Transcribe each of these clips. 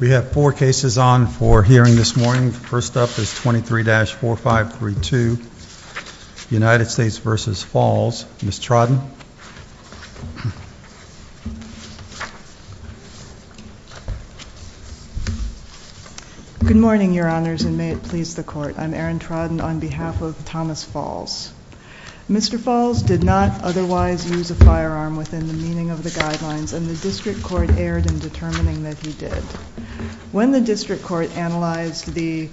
We have four cases on for hearing this morning. First up is 23-4532, United States v. Faulls. Ms. Trodden. Good morning, Your Honors, and may it please the Court. I'm Erin Trodden on behalf of Thomas Faulls. Mr. Faulls did not otherwise use a firearm within the meaning of the guidelines, and the District Court erred in determining that he did. When the District Court analyzed the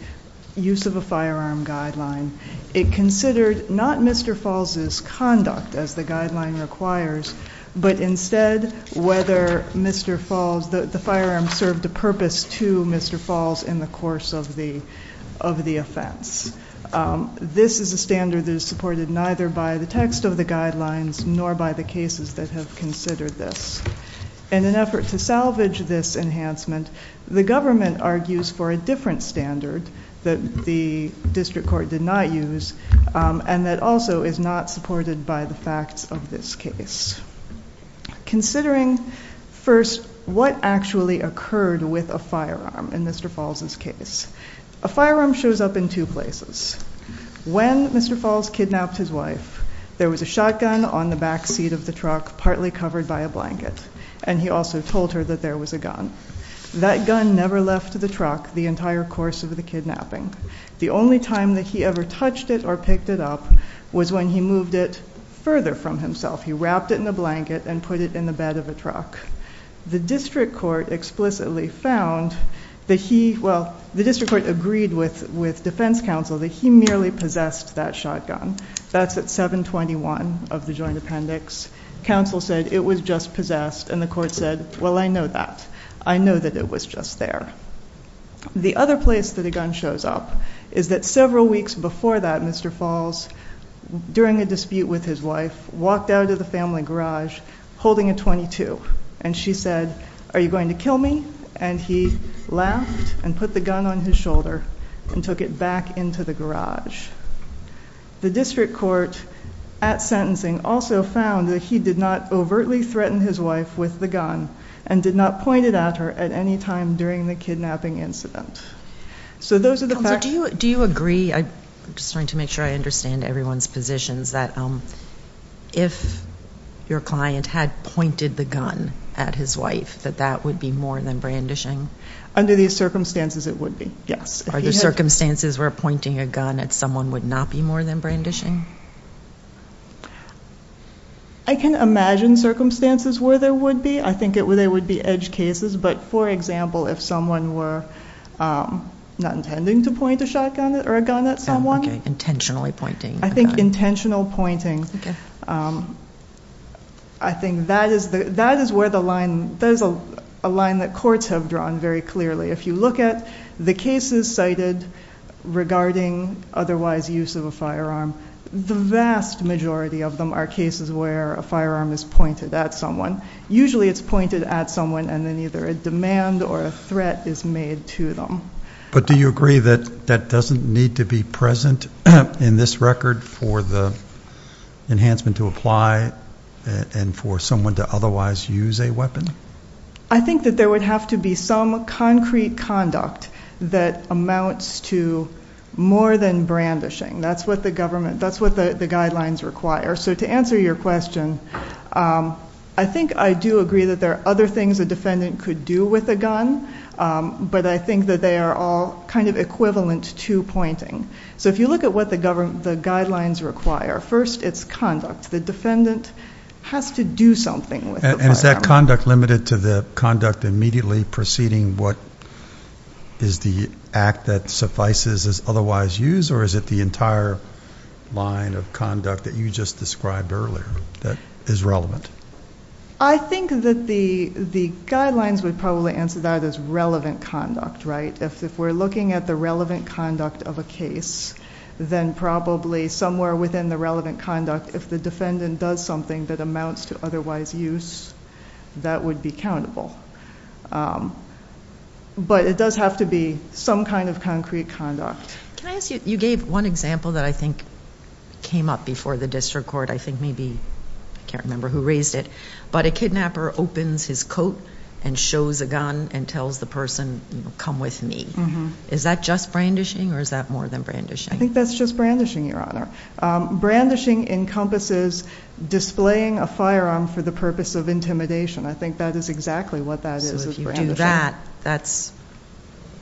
use of a firearm guideline, it considered not Mr. Faulls' conduct as the guideline requires, but instead whether the firearm served a purpose to Mr. Faulls in the course of the offense. This is a standard that is supported neither by the text of the guidelines nor by the cases that have considered this. In an effort to salvage this enhancement, the government argues for a different standard that the District Court did not use and that also is not supported by the facts of this case. Considering, first, what actually occurred with a firearm in Mr. Faulls' case, a firearm shows up in two places. When Mr. Faulls kidnapped his wife, there was a shotgun on the back seat of the truck partly covered by a blanket, and he also told her that there was a gun. That gun never left the truck the entire course of the kidnapping. The only time that he ever touched it or picked it up was when he moved it further from himself. He wrapped it in a blanket and put it in the bed of a truck. The District Court explicitly found that he, well, the District Court agreed with defense counsel that he merely possessed that shotgun. That's at 721 of the joint appendix. Counsel said it was just possessed, and the court said, well, I know that. I know that it was just there. The other place that a gun shows up is that several weeks before that, Mr. Faulls, during a dispute with his wife, walked out of the family garage holding a .22, and she said, are you going to kill me? And he laughed and put the gun on his shoulder and took it back into the garage. The District Court, at sentencing, also found that he did not overtly threaten his wife with the gun and did not point it at her at any time during the kidnapping incident. So those are the facts. Counsel, do you agree? I'm just trying to make sure I understand everyone's positions, that if your client had pointed the gun at his wife, that that would be more than brandishing? Under these circumstances, it would be, yes. Are there circumstances where pointing a gun at someone would not be more than brandishing? I can imagine circumstances where there would be. I think there would be edge cases, but, for example, if someone were not intending to point a shotgun or a gun at someone. Intentionally pointing a gun. I think intentional pointing, I think that is where the line, that is a line that courts have drawn very clearly. If you look at the cases cited regarding otherwise use of a firearm, the vast majority of them are cases where a firearm is pointed at someone. Usually it's pointed at someone and then either a demand or a threat is made to them. But do you agree that that doesn't need to be present in this record for the enhancement to apply and for someone to otherwise use a weapon? I think that there would have to be some concrete conduct that amounts to more than brandishing. That's what the government, that's what the guidelines require. So to answer your question, I think I do agree that there are other things a defendant could do with a gun, but I think that they are all kind of equivalent to pointing. So if you look at what the guidelines require, first it's conduct. The defendant has to do something with the firearm. And is that conduct limited to the conduct immediately preceding what is the act that suffices as otherwise use, or is it the entire line of conduct that you just described earlier that is relevant? I think that the guidelines would probably answer that as relevant conduct, right? If we're looking at the relevant conduct of a case, then probably somewhere within the relevant conduct, if the defendant does something that amounts to otherwise use, that would be countable. But it does have to be some kind of concrete conduct. Can I ask you, you gave one example that I think came up before the district court, I think maybe, I can't remember who raised it, but a kidnapper opens his coat and shows a gun and tells the person, you know, come with me. Is that just brandishing or is that more than brandishing? I think that's just brandishing, Your Honor. Brandishing encompasses displaying a firearm for the purpose of intimidation. I think that is exactly what that is, is brandishing. If you do that, that's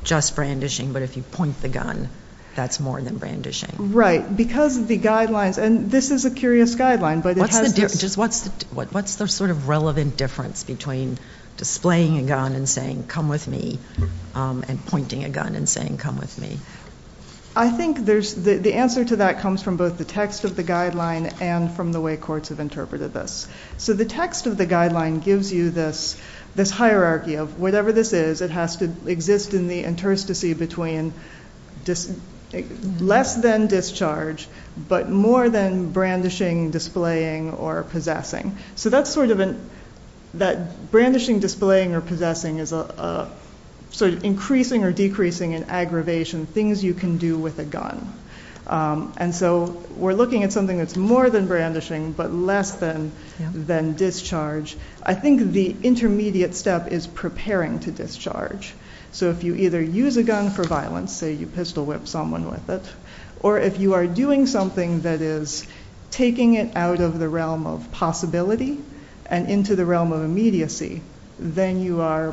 just brandishing, but if you point the gun, that's more than brandishing. Right, because the guidelines, and this is a curious guideline. What's the sort of relevant difference between displaying a gun and saying come with me and pointing a gun and saying come with me? I think the answer to that comes from both the text of the guideline and from the way courts have interpreted this. So the text of the guideline gives you this hierarchy of whatever this is, it has to exist in the interstice between less than discharge, but more than brandishing, displaying, or possessing. So that's sort of a, that brandishing, displaying, or possessing is sort of increasing or decreasing in aggravation, things you can do with a gun. And so we're looking at something that's more than brandishing, but less than discharge. I think the intermediate step is preparing to discharge. So if you either use a gun for violence, say you pistol whip someone with it, or if you are doing something that is taking it out of the realm of possibility and into the realm of immediacy, then you are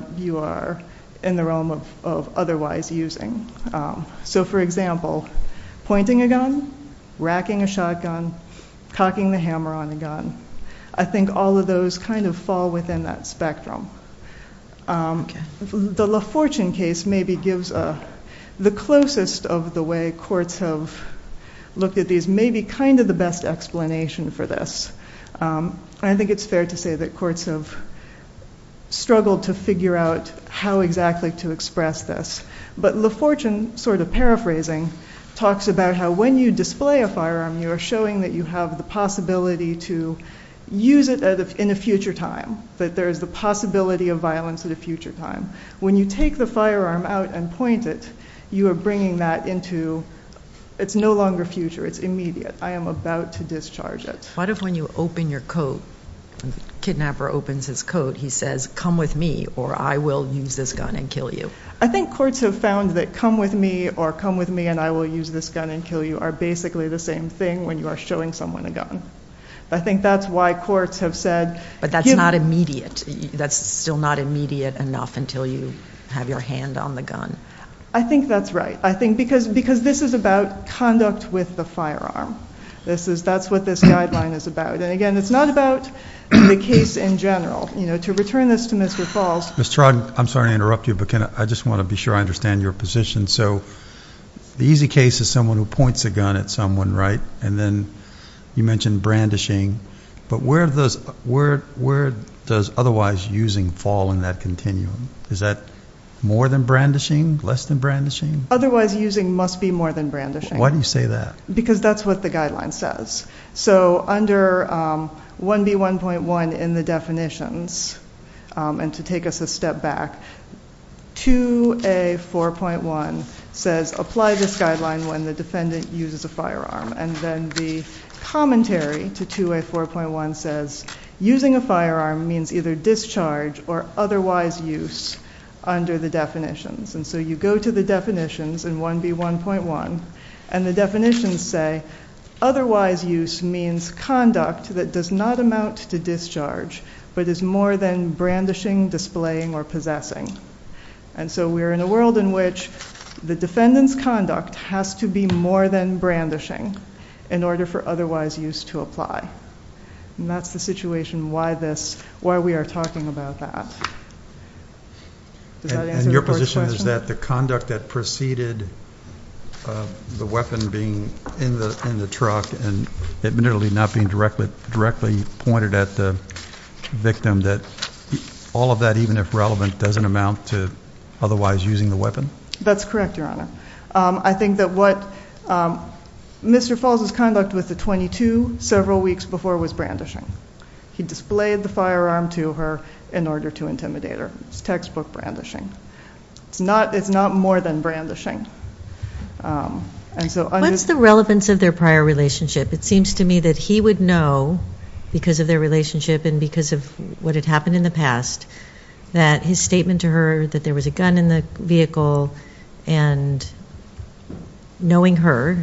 in the realm of otherwise using. So for example, pointing a gun, racking a shotgun, cocking the hammer on a gun, I think all of those kind of fall within that spectrum. The LaFortune case maybe gives the closest of the way courts have looked at these, maybe kind of the best explanation for this. I think it's fair to say that courts have struggled to figure out how exactly to express this. But LaFortune, sort of paraphrasing, talks about how when you display a firearm, you are showing that you have the possibility to use it in a future time, that there is the possibility of violence at a future time. When you take the firearm out and point it, you are bringing that into, it's no longer future, it's immediate, I am about to discharge it. What if when you open your coat, the kidnapper opens his coat, he says, come with me or I will use this gun and kill you? I think courts have found that come with me or come with me and I will use this gun and kill you are basically the same thing when you are showing someone a gun. I think that's why courts have said... But that's not immediate. That's still not immediate enough until you have your hand on the gun. I think that's right. I think because this is about conduct with the firearm. That's what this guideline is about. And again, it's not about the case in general. To return this to Mr. Falls... Ms. Trogdon, I'm sorry to interrupt you, but I just want to be sure I understand your position. So the easy case is someone who points a gun at someone, right? And then you mentioned brandishing. But where does otherwise using fall in that continuum? Is that more than brandishing, less than brandishing? Otherwise using must be more than brandishing. Why do you say that? Because that's what the guideline says. So under 1B1.1 in the definitions, and to take us a step back, 2A4.1 says, apply this guideline when the defendant uses a firearm. And then the commentary to 2A4.1 says, using a firearm means either discharge or otherwise use under the definitions. And so you go to the definitions in 1B1.1, and the definitions say, otherwise use means conduct that does not amount to discharge but is more than brandishing, displaying, or possessing. And so we're in a world in which the defendant's conduct has to be more than brandishing in order for otherwise use to apply. And that's the situation why we are talking about that. And your position is that the conduct that preceded the weapon being in the truck and it literally not being directly pointed at the victim, that all of that, even if relevant, doesn't amount to otherwise using the weapon? That's correct, Your Honor. I think that what Mr. Falls' conduct with the .22 several weeks before was brandishing. He displayed the firearm to her in order to intimidate her. It's textbook brandishing. It's not more than brandishing. What's the relevance of their prior relationship? It seems to me that he would know, because of their relationship and because of what had happened in the past, that his statement to her, that there was a gun in the vehicle, and knowing her,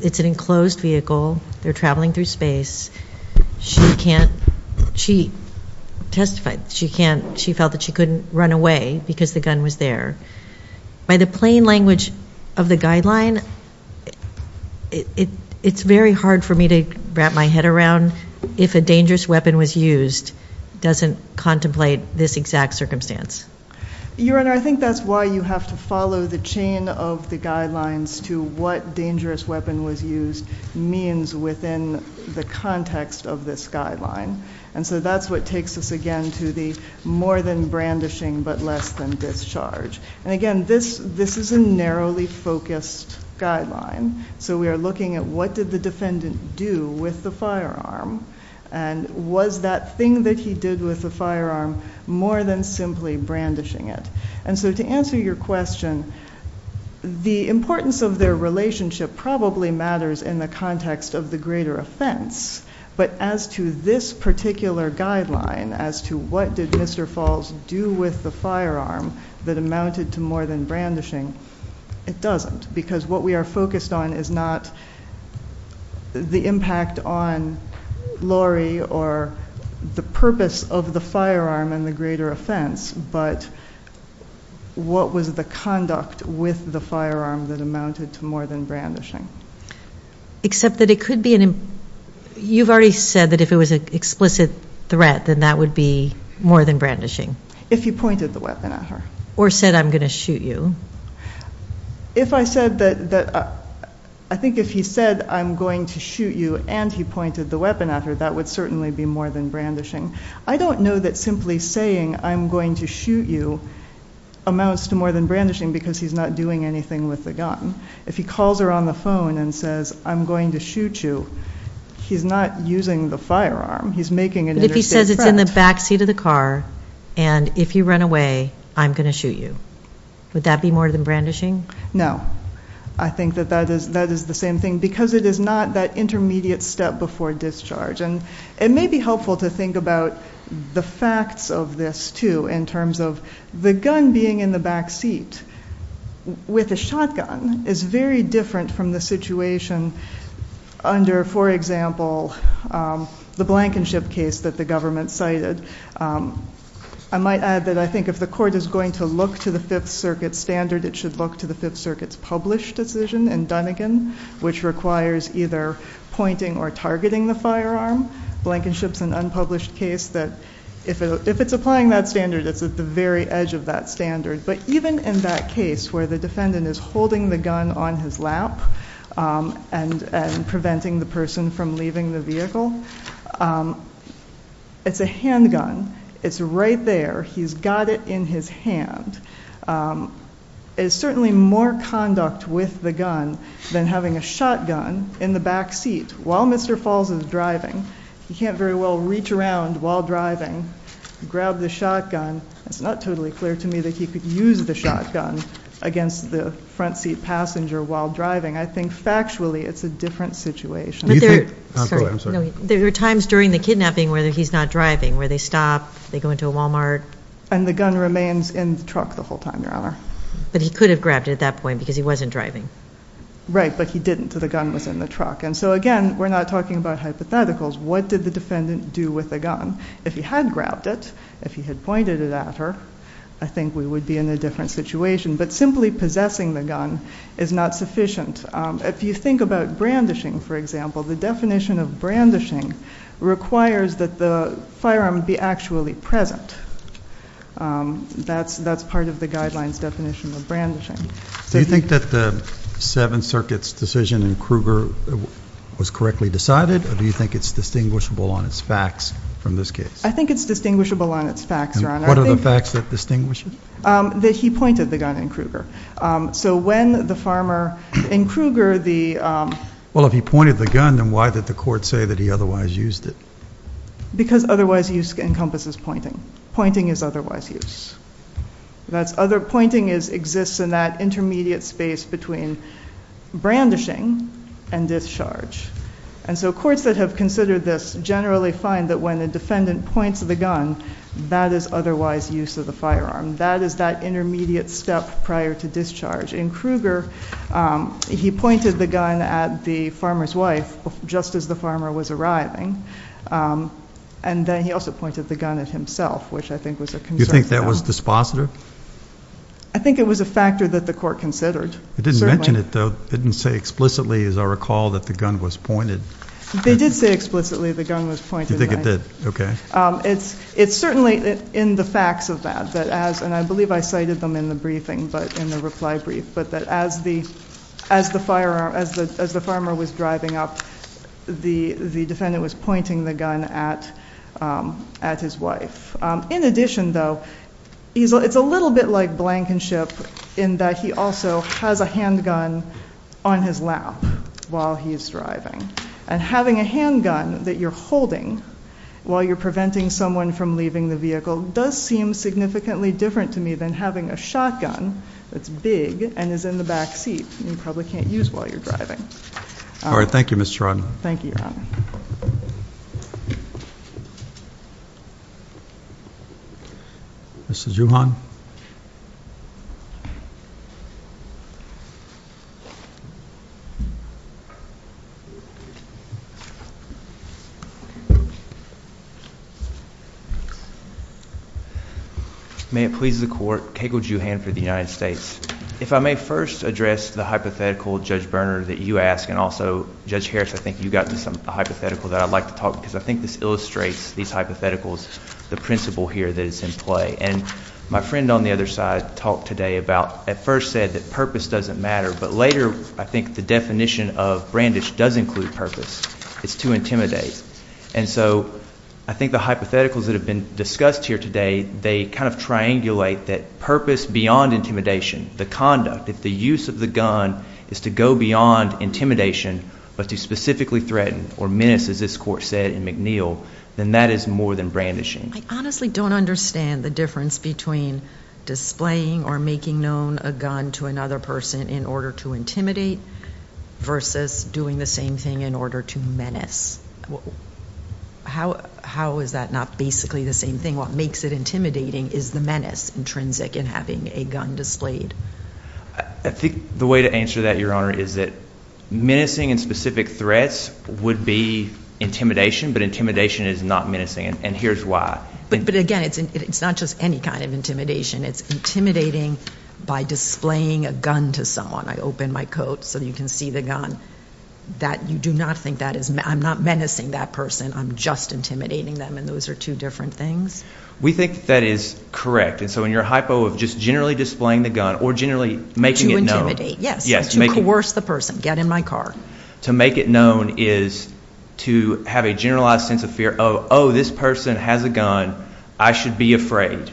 it's an enclosed vehicle, they're traveling through space, she testified she felt that she couldn't run away because the gun was there. By the plain language of the guideline, it's very hard for me to wrap my head around if a dangerous weapon was used doesn't contemplate this exact circumstance. Your Honor, I think that's why you have to follow the chain of the guidelines to what dangerous weapon was used means within the context of this guideline. That's what takes us again to the more than brandishing but less than discharge. Again, this is a narrowly focused guideline. We are looking at what did the defendant do with the firearm, and was that thing that he did with the firearm more than simply brandishing it? To answer your question, the importance of their relationship probably matters in the context of the greater offense, but as to this particular guideline, as to what did Mr. Falls do with the firearm that amounted to more than brandishing, it doesn't because what we are focused on is not the impact on Lori or the purpose of the firearm and the greater offense, but what was the conduct with the firearm that amounted to more than brandishing. Except that it could be an implicit threat. You've already said that if it was an explicit threat, then that would be more than brandishing. If he pointed the weapon at her. Or said, I'm going to shoot you. I think if he said, I'm going to shoot you, and he pointed the weapon at her, that would certainly be more than brandishing. I don't know that simply saying, I'm going to shoot you, amounts to more than brandishing because he's not doing anything with the gun. If he calls her on the phone and says, I'm going to shoot you, he's not using the firearm. He's making an interstate threat. But if he says it's in the backseat of the car, and if you run away, I'm going to shoot you. Would that be more than brandishing? No. I think that that is the same thing because it is not that intermediate step before discharge. It may be helpful to think about the facts of this, too, in terms of the gun being in the backseat with a shotgun is very different from the situation under, for example, the Blankenship case that the government cited. I might add that I think if the court is going to look to the Fifth Circuit standard, it should look to the Fifth Circuit's published decision in Dunigan, which requires either pointing or targeting the firearm. Blankenship's an unpublished case that if it's applying that standard, it's at the very edge of that standard. But even in that case where the defendant is holding the gun on his lap and preventing the person from leaving the vehicle, it's a handgun. It's right there. He's got it in his hand. It's certainly more conduct with the gun than having a shotgun in the backseat. While Mr. Falls is driving, he can't very well reach around while driving, grab the shotgun. It's not totally clear to me that he could use the shotgun against the front seat passenger while driving. I think factually it's a different situation. There are times during the kidnapping where he's not driving, where they stop, they go into a Walmart. And the gun remains in the truck the whole time, Your Honor. But he could have grabbed it at that point because he wasn't driving. Right, but he didn't, so the gun was in the truck. And so, again, we're not talking about hypotheticals. What did the defendant do with the gun? If he had grabbed it, if he had pointed it at her, I think we would be in a different situation. But simply possessing the gun is not sufficient. If you think about brandishing, for example, the definition of brandishing requires that the firearm be actually present. That's part of the guidelines definition of brandishing. Do you think that the Seventh Circuit's decision in Kruger was correctly decided? Or do you think it's distinguishable on its facts from this case? I think it's distinguishable on its facts, Your Honor. And what are the facts that distinguish it? That he pointed the gun in Kruger. So when the farmer in Kruger, the- Well, if he pointed the gun, then why did the court say that he otherwise used it? Because otherwise use encompasses pointing. Pointing is otherwise use. Pointing exists in that intermediate space between brandishing and discharge. And so courts that have considered this generally find that when a defendant points the gun, that is otherwise use of the firearm. That is that intermediate step prior to discharge. In Kruger, he pointed the gun at the farmer's wife just as the farmer was arriving. And then he also pointed the gun at himself, which I think was a concern. Do you think that was dispositor? I think it was a factor that the court considered. It didn't mention it, though. It didn't say explicitly, as I recall, that the gun was pointed. They did say explicitly the gun was pointed. Do you think it did? Okay. It's certainly in the facts of that, and I believe I cited them in the briefing, in the reply brief, but that as the farmer was driving up, the defendant was pointing the gun at his wife. In addition, though, it's a little bit like blankenship in that he also has a handgun on his lap while he's driving. And having a handgun that you're holding while you're preventing someone from leaving the vehicle does seem significantly different to me than having a shotgun that's big and is in the back seat and you probably can't use while you're driving. All right. Thank you, Ms. Truong. Thank you, Your Honor. Mr. Juhan. May it please the Court. Keiko Juhan for the United States. If I may first address the hypothetical, Judge Berner, that you asked, and also Judge Harris, I think you got to a hypothetical that I'd like to talk, because I think this illustrates these hypotheticals, the principle here that is in play. And my friend on the other side talked today about, at first said that purpose doesn't matter, but later I think the definition of brandish does include purpose. It's to intimidate. And so I think the hypotheticals that have been discussed here today, they kind of triangulate that purpose beyond intimidation, the conduct, if the use of the gun is to go beyond intimidation but to specifically threaten or menace, as this Court said in McNeil, then that is more than brandishing. I honestly don't understand the difference between displaying or making known a gun to another person in order to intimidate versus doing the same thing in order to menace. How is that not basically the same thing? What makes it intimidating is the menace intrinsic in having a gun displayed. I think the way to answer that, Your Honor, is that menacing in specific threats would be intimidation, but intimidation is not menacing, and here's why. But again, it's not just any kind of intimidation. It's intimidating by displaying a gun to someone. I opened my coat so you can see the gun. You do not think that is menacing. I'm just intimidating them, and those are two different things. We think that is correct. So in your hypo of just generally displaying the gun or generally making it known. To intimidate, yes, to coerce the person, get in my car. To make it known is to have a generalized sense of fear of, oh, this person has a gun, I should be afraid.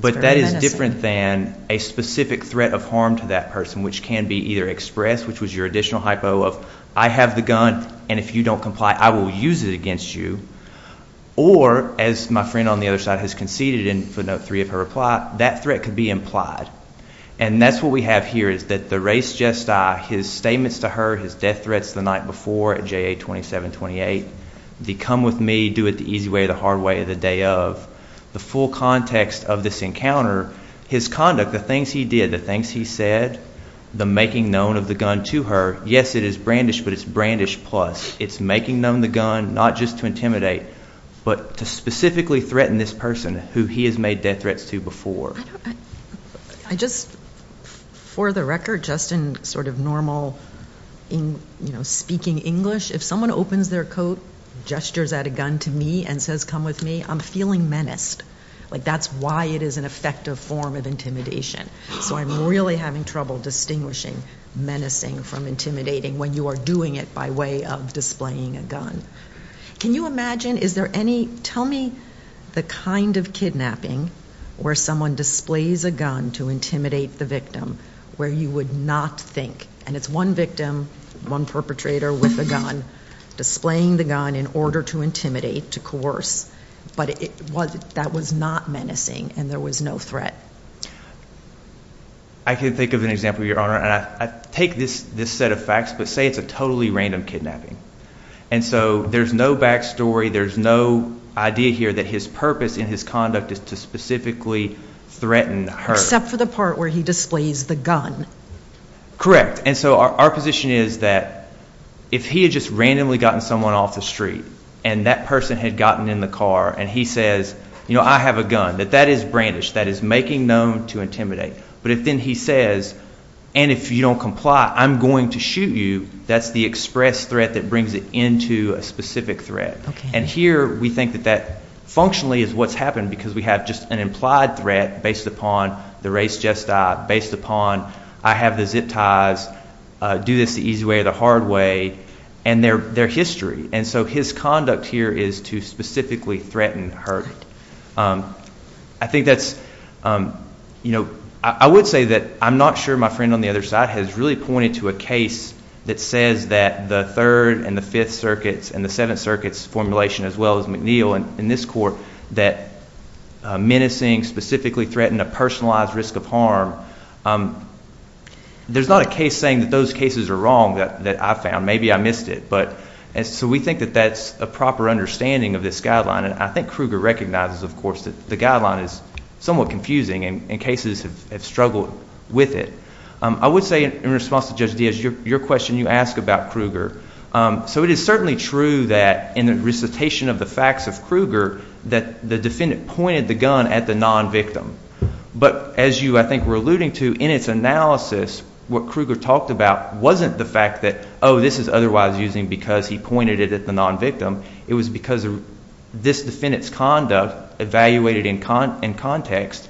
But that is different than a specific threat of harm to that person, which can be either expressed, which was your additional hypo of, I have the gun, and if you don't comply, I will use it against you. Or, as my friend on the other side has conceded in footnote 3 of her reply, that threat could be implied. And that's what we have here is that the race gesti, his statements to her, his death threats the night before at JA 2728, the come with me, do it the easy way or the hard way or the day of, the full context of this encounter, his conduct, the things he did, the things he said, the making known of the gun to her, yes, it is brandish, but it's brandish plus. It's making known the gun, not just to intimidate, but to specifically threaten this person who he has made death threats to before. I just, for the record, just in sort of normal, you know, speaking English, if someone opens their coat, gestures at a gun to me and says come with me, I'm feeling menaced. Like that's why it is an effective form of intimidation. So I'm really having trouble distinguishing menacing from intimidating when you are doing it by way of displaying a gun. Can you imagine, is there any, tell me the kind of kidnapping where someone displays a gun to intimidate the victim where you would not think, and it's one victim, one perpetrator with a gun, displaying the gun in order to intimidate, to coerce, but that was not menacing and there was no threat? I can think of an example, Your Honor, and I take this set of facts, but say it's a totally random kidnapping. And so there's no back story, there's no idea here that his purpose in his conduct is to specifically threaten her. Except for the part where he displays the gun. Correct. And so our position is that if he had just randomly gotten someone off the street and that person had gotten in the car and he says, you know, I have a gun, that that is brandish, that is making known to intimidate. But if then he says, and if you don't comply, I'm going to shoot you, that's the express threat that brings it into a specific threat. And here we think that that functionally is what's happened because we have just an implied threat based upon the race just died, based upon I have the zip ties, do this the easy way or the hard way, and their history. And so his conduct here is to specifically threaten her. I think that's, you know, I would say that I'm not sure my friend on the other side has really pointed to a case that says that the Third and the Fifth Circuits and the Seventh Circuit's formulation, as well as McNeil and this court, that menacing specifically threatened a personalized risk of harm. There's not a case saying that those cases are wrong that I found. Maybe I missed it. So we think that that's a proper understanding of this guideline, and I think Kruger recognizes, of course, that the guideline is somewhat confusing and cases have struggled with it. I would say in response to Judge Diaz, your question you ask about Kruger. So it is certainly true that in the recitation of the facts of Kruger that the defendant pointed the gun at the nonvictim. But as you, I think, were alluding to, in its analysis, what Kruger talked about wasn't the fact that, oh, this is otherwise using because he pointed it at the nonvictim. It was because this defendant's conduct evaluated in context.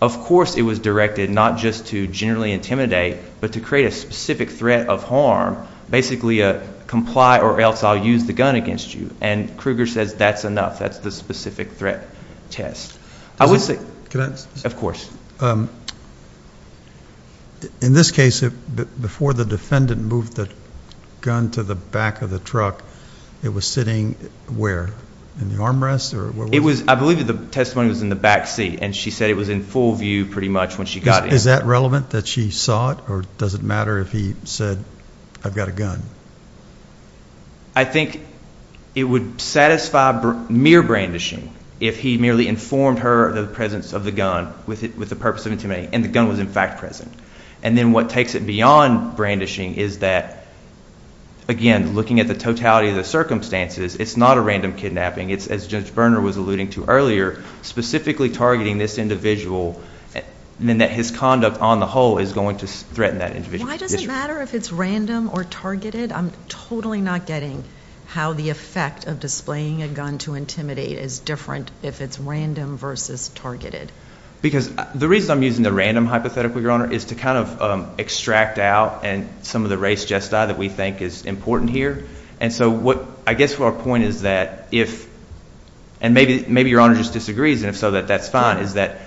Of course it was directed not just to generally intimidate but to create a specific threat of harm, basically a comply or else I'll use the gun against you. And Kruger says that's enough. That's the specific threat test. I would say, of course. In this case, before the defendant moved the gun to the back of the truck, it was sitting where? In the armrest or where was it? I believe the testimony was in the back seat, and she said it was in full view pretty much when she got in. Is that relevant, that she saw it? Or does it matter if he said, I've got a gun? I think it would satisfy mere brandishing if he merely informed her of the presence of the gun with the purpose of intimidating and the gun was, in fact, present. And then what takes it beyond brandishing is that, again, looking at the totality of the circumstances, it's not a random kidnapping. It's, as Judge Berner was alluding to earlier, specifically targeting this individual and that his conduct on the whole is going to threaten that individual. Why does it matter if it's random or targeted? I'm totally not getting how the effect of displaying a gun to intimidate is different if it's random versus targeted. Because the reason I'm using the random hypothetical, Your Honor, is to kind of extract out some of the race gesti that we think is important here. And so I guess our point is that if, and maybe Your Honor just disagrees, and if so, that's fine, is that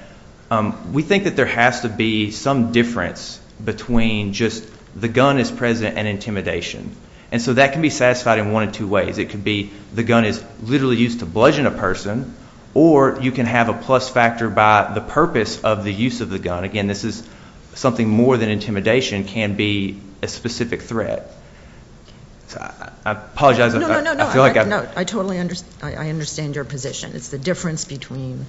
we think that there has to be some difference between just the gun is present and intimidation. And so that can be satisfied in one of two ways. It could be the gun is literally used to bludgeon a person or you can have a plus factor by the purpose of the use of the gun. Again, this is something more than intimidation can be a specific threat. I apologize. No, no, no. I totally understand your position. It's the difference between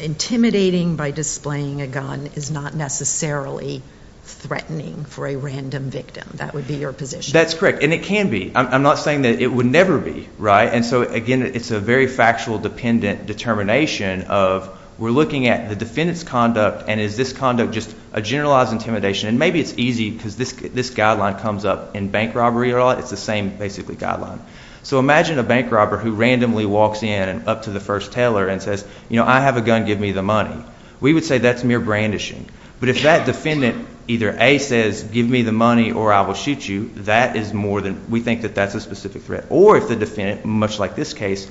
intimidating by displaying a gun is not necessarily threatening for a random victim. That would be your position. That's correct. And it can be. I'm not saying that it would never be, right? And so, again, it's a very factual dependent determination of we're looking at the defendant's conduct and is this conduct just a generalized intimidation. And maybe it's easy because this guideline comes up in bank robbery. It's the same basically guideline. So imagine a bank robber who randomly walks in up to the first teller and says, you know, I have a gun. Give me the money. We would say that's mere brandishing. But if that defendant either, A, says give me the money or I will shoot you, that is more than we think that that's a specific threat. Or if the defendant, much like this case,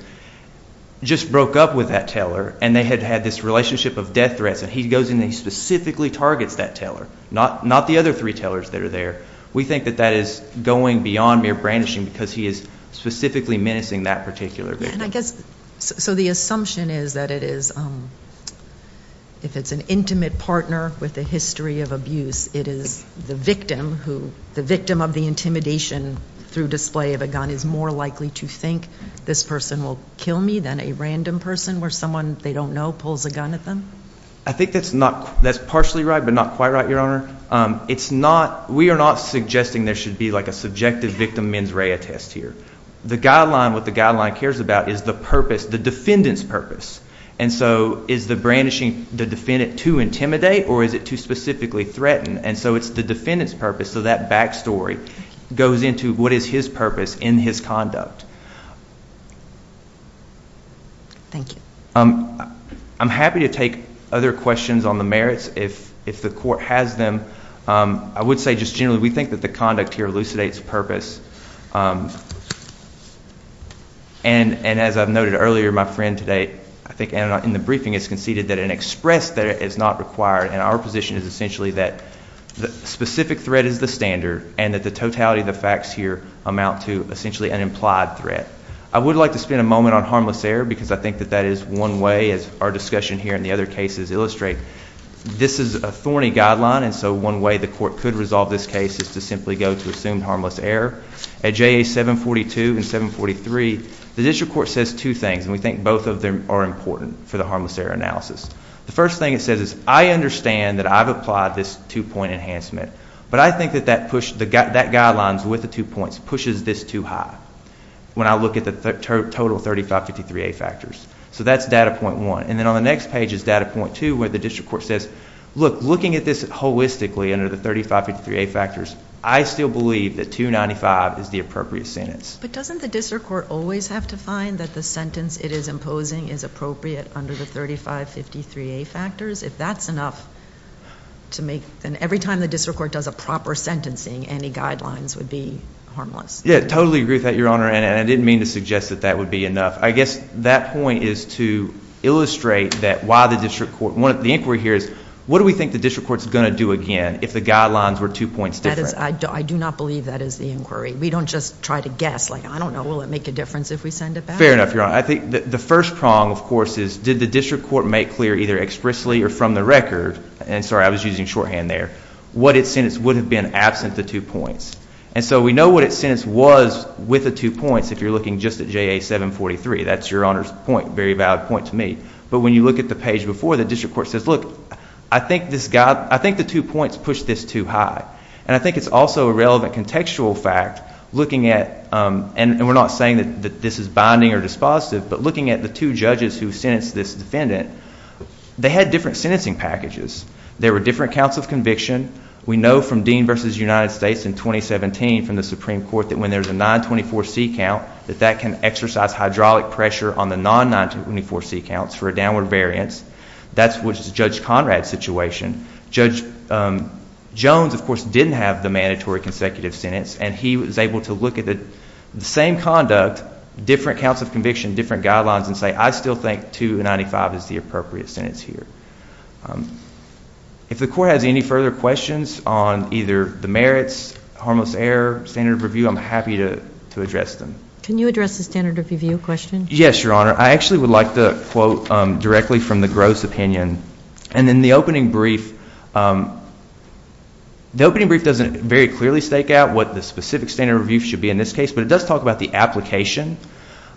just broke up with that teller and they had had this relationship of death threats and he goes in and he specifically targets that teller, not the other three tellers that are there. We think that that is going beyond mere brandishing because he is specifically menacing that particular victim. And I guess, so the assumption is that it is, if it's an intimate partner with a history of abuse, it is the victim of the intimidation through display of a gun is more likely to think this person will kill me than a random person where someone they don't know pulls a gun at them? I think that's partially right but not quite right, Your Honor. It's not, we are not suggesting there should be like a subjective victim mens rea test here. The guideline, what the guideline cares about is the purpose, the defendant's purpose. And so is the brandishing the defendant to intimidate or is it to specifically threaten? And so it's the defendant's purpose. So that back story goes into what is his purpose in his conduct. Thank you. I'm happy to take other questions on the merits if the court has them. I would say just generally we think that the conduct here elucidates purpose. And as I've noted earlier, my friend today, I think in the briefing, has conceded that an express threat is not required and our position is essentially that the specific threat is the standard and that the totality of the facts here amount to essentially an implied threat. I would like to spend a moment on harmless error because I think that that is one way, as our discussion here and the other cases illustrate, this is a thorny guideline, and so one way the court could resolve this case is to simply go to assume harmless error. At JA 742 and 743, the district court says two things, and we think both of them are important for the harmless error analysis. The first thing it says is, I understand that I've applied this two-point enhancement, but I think that that guideline with the two points pushes this too high when I look at the total 3553A factors. So that's data point one. And then on the next page is data point two, where the district court says, look, looking at this holistically under the 3553A factors, I still believe that 295 is the appropriate sentence. But doesn't the district court always have to find that the sentence it is imposing is appropriate under the 3553A factors? If that's enough, then every time the district court does a proper sentencing, any guidelines would be harmless. Yeah, I totally agree with that, Your Honor, and I didn't mean to suggest that that would be enough. I guess that point is to illustrate that why the district court, the inquiry here is, what do we think the district court is going to do again if the guidelines were two points different? I do not believe that is the inquiry. We don't just try to guess. Like, I don't know. Will it make a difference if we send it back? Fair enough, Your Honor. I think the first prong, of course, is did the district court make clear either expressly or from the record, and sorry, I was using shorthand there, what its sentence would have been absent the two points. And so we know what its sentence was with the two points if you're looking just at JA 743. That's Your Honor's point, very valid point to me. But when you look at the page before, the district court says, look, I think the two points push this too high. And I think it's also a relevant contextual fact looking at, and we're not saying that this is binding or dispositive, but looking at the two judges who sentenced this defendant, they had different sentencing packages. There were different counts of conviction. We know from Dean v. United States in 2017 from the Supreme Court that when there's a 924C count that that can exercise hydraulic pressure on the non-924C counts for a downward variance. That's Judge Conrad's situation. Judge Jones, of course, didn't have the mandatory consecutive sentence, and he was able to look at the same conduct, different counts of conviction, different guidelines, and say I still think 295 is the appropriate sentence here. If the court has any further questions on either the merits, harmless error, standard of review, I'm happy to address them. Can you address the standard of review question? Yes, Your Honor. I actually would like to quote directly from the Gross opinion. And in the opening brief, the opening brief doesn't very clearly stake out what the specific standard of review should be in this case, but it does talk about the application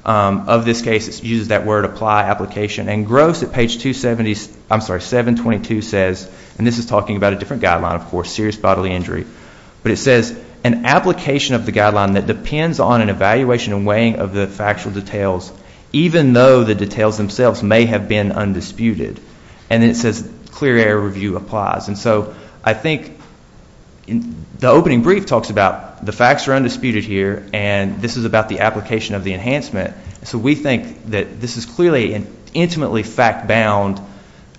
of this case. It uses that word apply application. And Gross at page 722 says, and this is talking about a different guideline, of course, serious bodily injury, but it says, an application of the guideline that depends on an evaluation and weighing of the factual details, even though the details themselves may have been undisputed. And then it says clear error review applies. And so I think the opening brief talks about the facts are undisputed here, and this is about the application of the enhancement. So we think that this is clearly an intimately fact-bound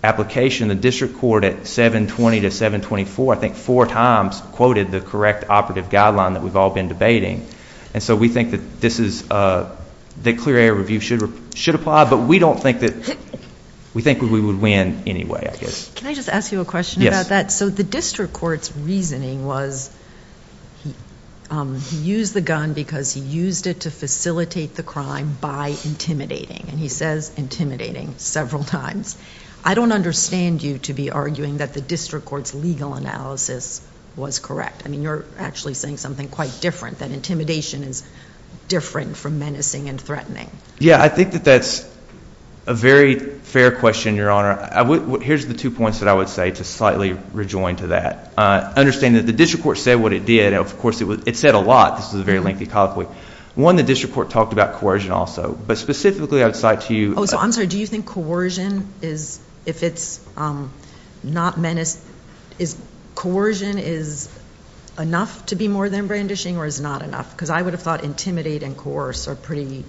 application. The district court at 720 to 724, I think, four times quoted the correct operative guideline that we've all been debating. And so we think that clear error review should apply, but we don't think that we would win anyway, I guess. Can I just ask you a question about that? Yes. So the district court's reasoning was he used the gun because he used it to facilitate the crime by intimidating. And he says intimidating several times. I don't understand you to be arguing that the district court's legal analysis was correct. I mean, you're actually saying something quite different, that intimidation is different from menacing and threatening. Yeah, I think that that's a very fair question, Your Honor. Here's the two points that I would say to slightly rejoin to that. Understand that the district court said what it did. Of course, it said a lot. This is a very lengthy colloquy. One, the district court talked about coercion also. But specifically, I would cite to you. Oh, so I'm sorry. Do you think coercion is, if it's not menacing, is coercion enough to be more than brandishing or is it not enough? Because I would have thought intimidate and coerce are pretty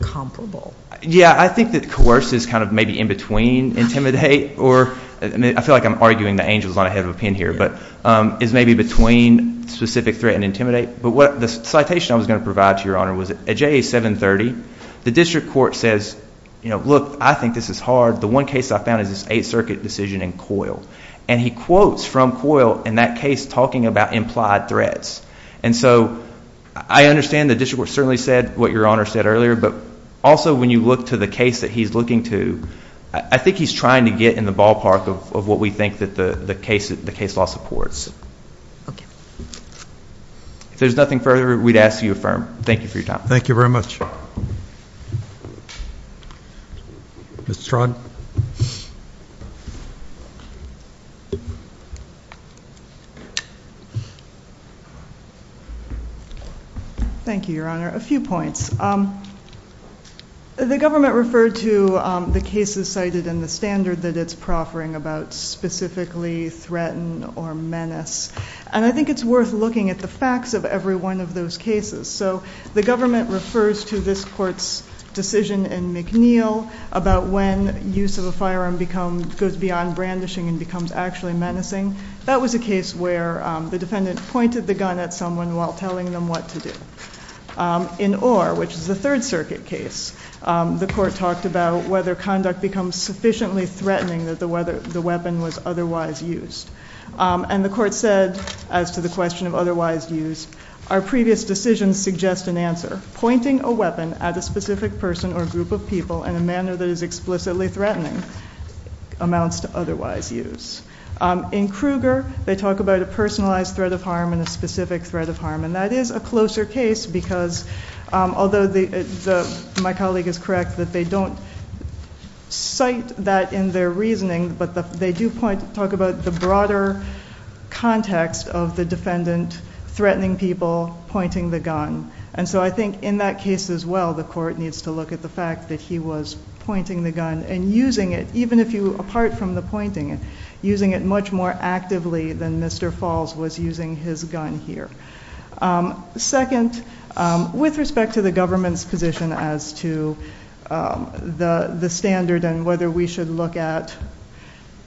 comparable. Yeah, I think that coerce is kind of maybe in between intimidate. I feel like I'm arguing that Angel's not ahead of a pin here. But it's maybe between specific threat and intimidate. But the citation I was going to provide to Your Honor was at JA 730, the district court says, look, I think this is hard. The one case I found is this Eighth Circuit decision in Coyle. And he quotes from Coyle in that case talking about implied threats. And so I understand the district court certainly said what Your Honor said earlier. But also when you look to the case that he's looking to, I think he's trying to get in the ballpark of what we think the case law supports. Okay. If there's nothing further, we'd ask that you affirm. Thank you for your time. Thank you very much. Ms. Strachan. Thank you, Your Honor. A few points. The government referred to the cases cited in the standard that it's proffering about specifically threaten or menace. And I think it's worth looking at the facts of every one of those cases. So the government refers to this court's decision in McNeil about when use of a firearm goes beyond brandishing and becomes actually menacing. That was a case where the defendant pointed the gun at someone while telling them what to do. In Orr, which is the Third Circuit case, the court talked about whether conduct becomes sufficiently threatening that the weapon was otherwise used. And the court said, as to the question of otherwise used, our previous decisions suggest an answer. Pointing a weapon at a specific person or group of people in a manner that is explicitly threatening amounts to otherwise use. In Kruger, they talk about a personalized threat of harm and a specific threat of harm. And that is a closer case because, although my colleague is correct that they don't cite that in their reasoning, but they do talk about the broader context of the defendant threatening people, pointing the gun. And so I think in that case as well, the court needs to look at the fact that he was pointing the gun and using it, even if you, apart from the pointing, using it much more actively than Mr. Falls was using his gun here. Second, with respect to the government's position as to the standard and whether we should look at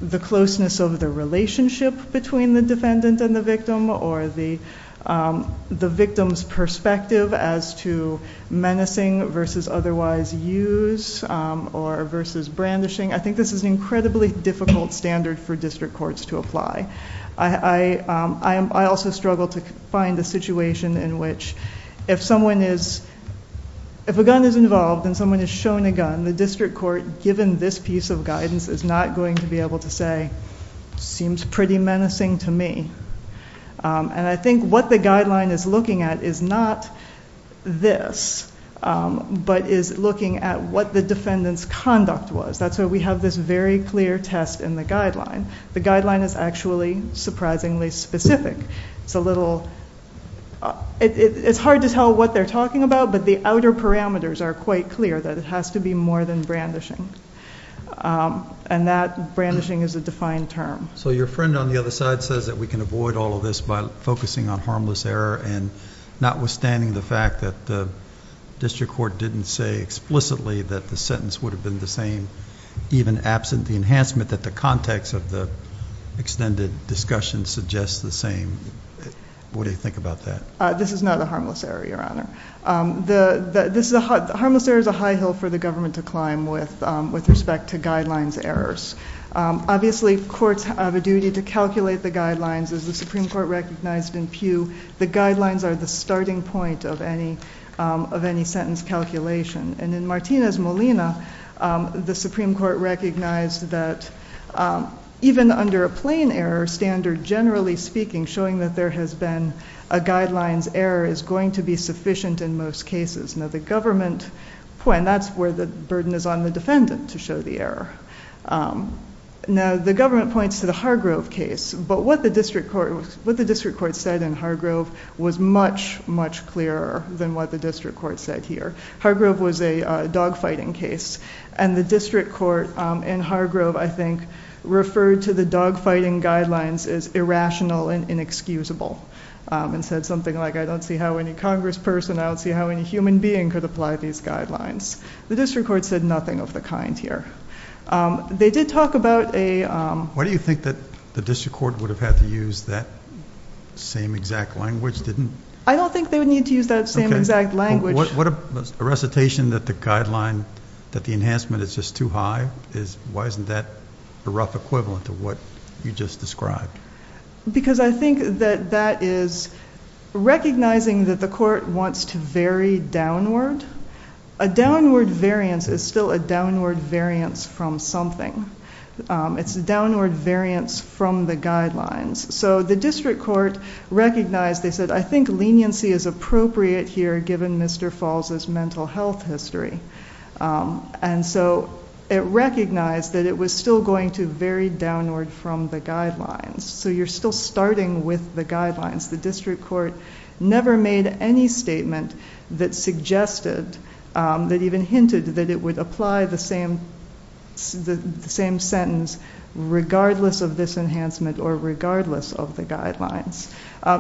the closeness of the relationship between the victim's perspective as to menacing versus otherwise use or versus brandishing, I think this is an incredibly difficult standard for district courts to apply. I also struggle to find a situation in which if someone is, if a gun is involved and someone is shown a gun, the district court, given this piece of guidance is not going to be able to say, seems pretty menacing to me. And I think what the guideline is looking at is not this, but is looking at what the defendant's conduct was. That's why we have this very clear test in the guideline. The guideline is actually surprisingly specific. It's a little, it's hard to tell what they're talking about, but the outer parameters are quite clear that it has to be more than brandishing. And that brandishing is a defined term. So your friend on the other side says that we can avoid all of this by focusing on harmless error and not withstanding the fact that the district court didn't say explicitly that the sentence would have been the same, even absent the enhancement that the context of the extended discussion suggests the same. What do you think about that? This is not a harmless error, Your Honor. The harmless error is a high hill for the government to climb with, with respect to guidelines errors. Obviously courts have a duty to calculate the guidelines. As the Supreme Court recognized in Pew, the guidelines are the starting point of any sentence calculation. And in Martina's Molina, the Supreme Court recognized that even under a plain error standard, generally speaking, showing that there has been a guidelines error is going to be sufficient in most cases. Now the government, and that's where the burden is on the defendant to show the error. Now the government points to the Hargrove case, but what the district court said in Hargrove was much, much clearer than what the district court said here. Hargrove was a dog fighting case. And the district court in Hargrove, I think referred to the dog fighting guidelines as irrational and inexcusable. And said something like, I don't see how any Congress person, I don't see how any human being could apply these guidelines. The district court said nothing of the kind here. They did talk about a, why do you think that the district court would have had to use that same exact language? Didn't I don't think they would need to use that same exact language. What a recitation that the guideline, that the enhancement is just too high is why isn't that a rough equivalent of what you just described? Because I think that that is recognizing that the court wants to vary downward. A downward variance is still a downward variance from something. It's a downward variance from the guidelines. So the district court recognized. They said, I think leniency is appropriate here. Given Mr. Falls is mental health history. And so it recognized that it was still going to vary downward from the guidelines. So you're still starting with the guidelines. The district court never made any statement that suggested that even hinted that it would apply the same. The same sentence, regardless of this enhancement or regardless of the guidelines,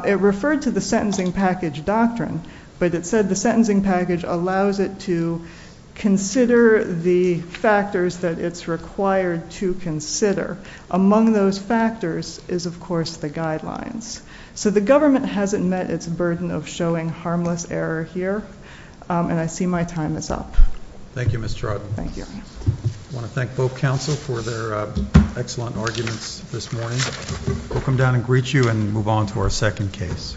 it referred to the sentencing package doctrine, but it said the sentencing package allows it to consider the factors that it's required to consider among those factors is of course, the guidelines. So the government hasn't met its burden of showing harmless error here. And I see my time is up. Thank you, Miss. Thank you. I want to thank both counsel for their excellent arguments. This morning. We'll come down and greet you and move on to our second case.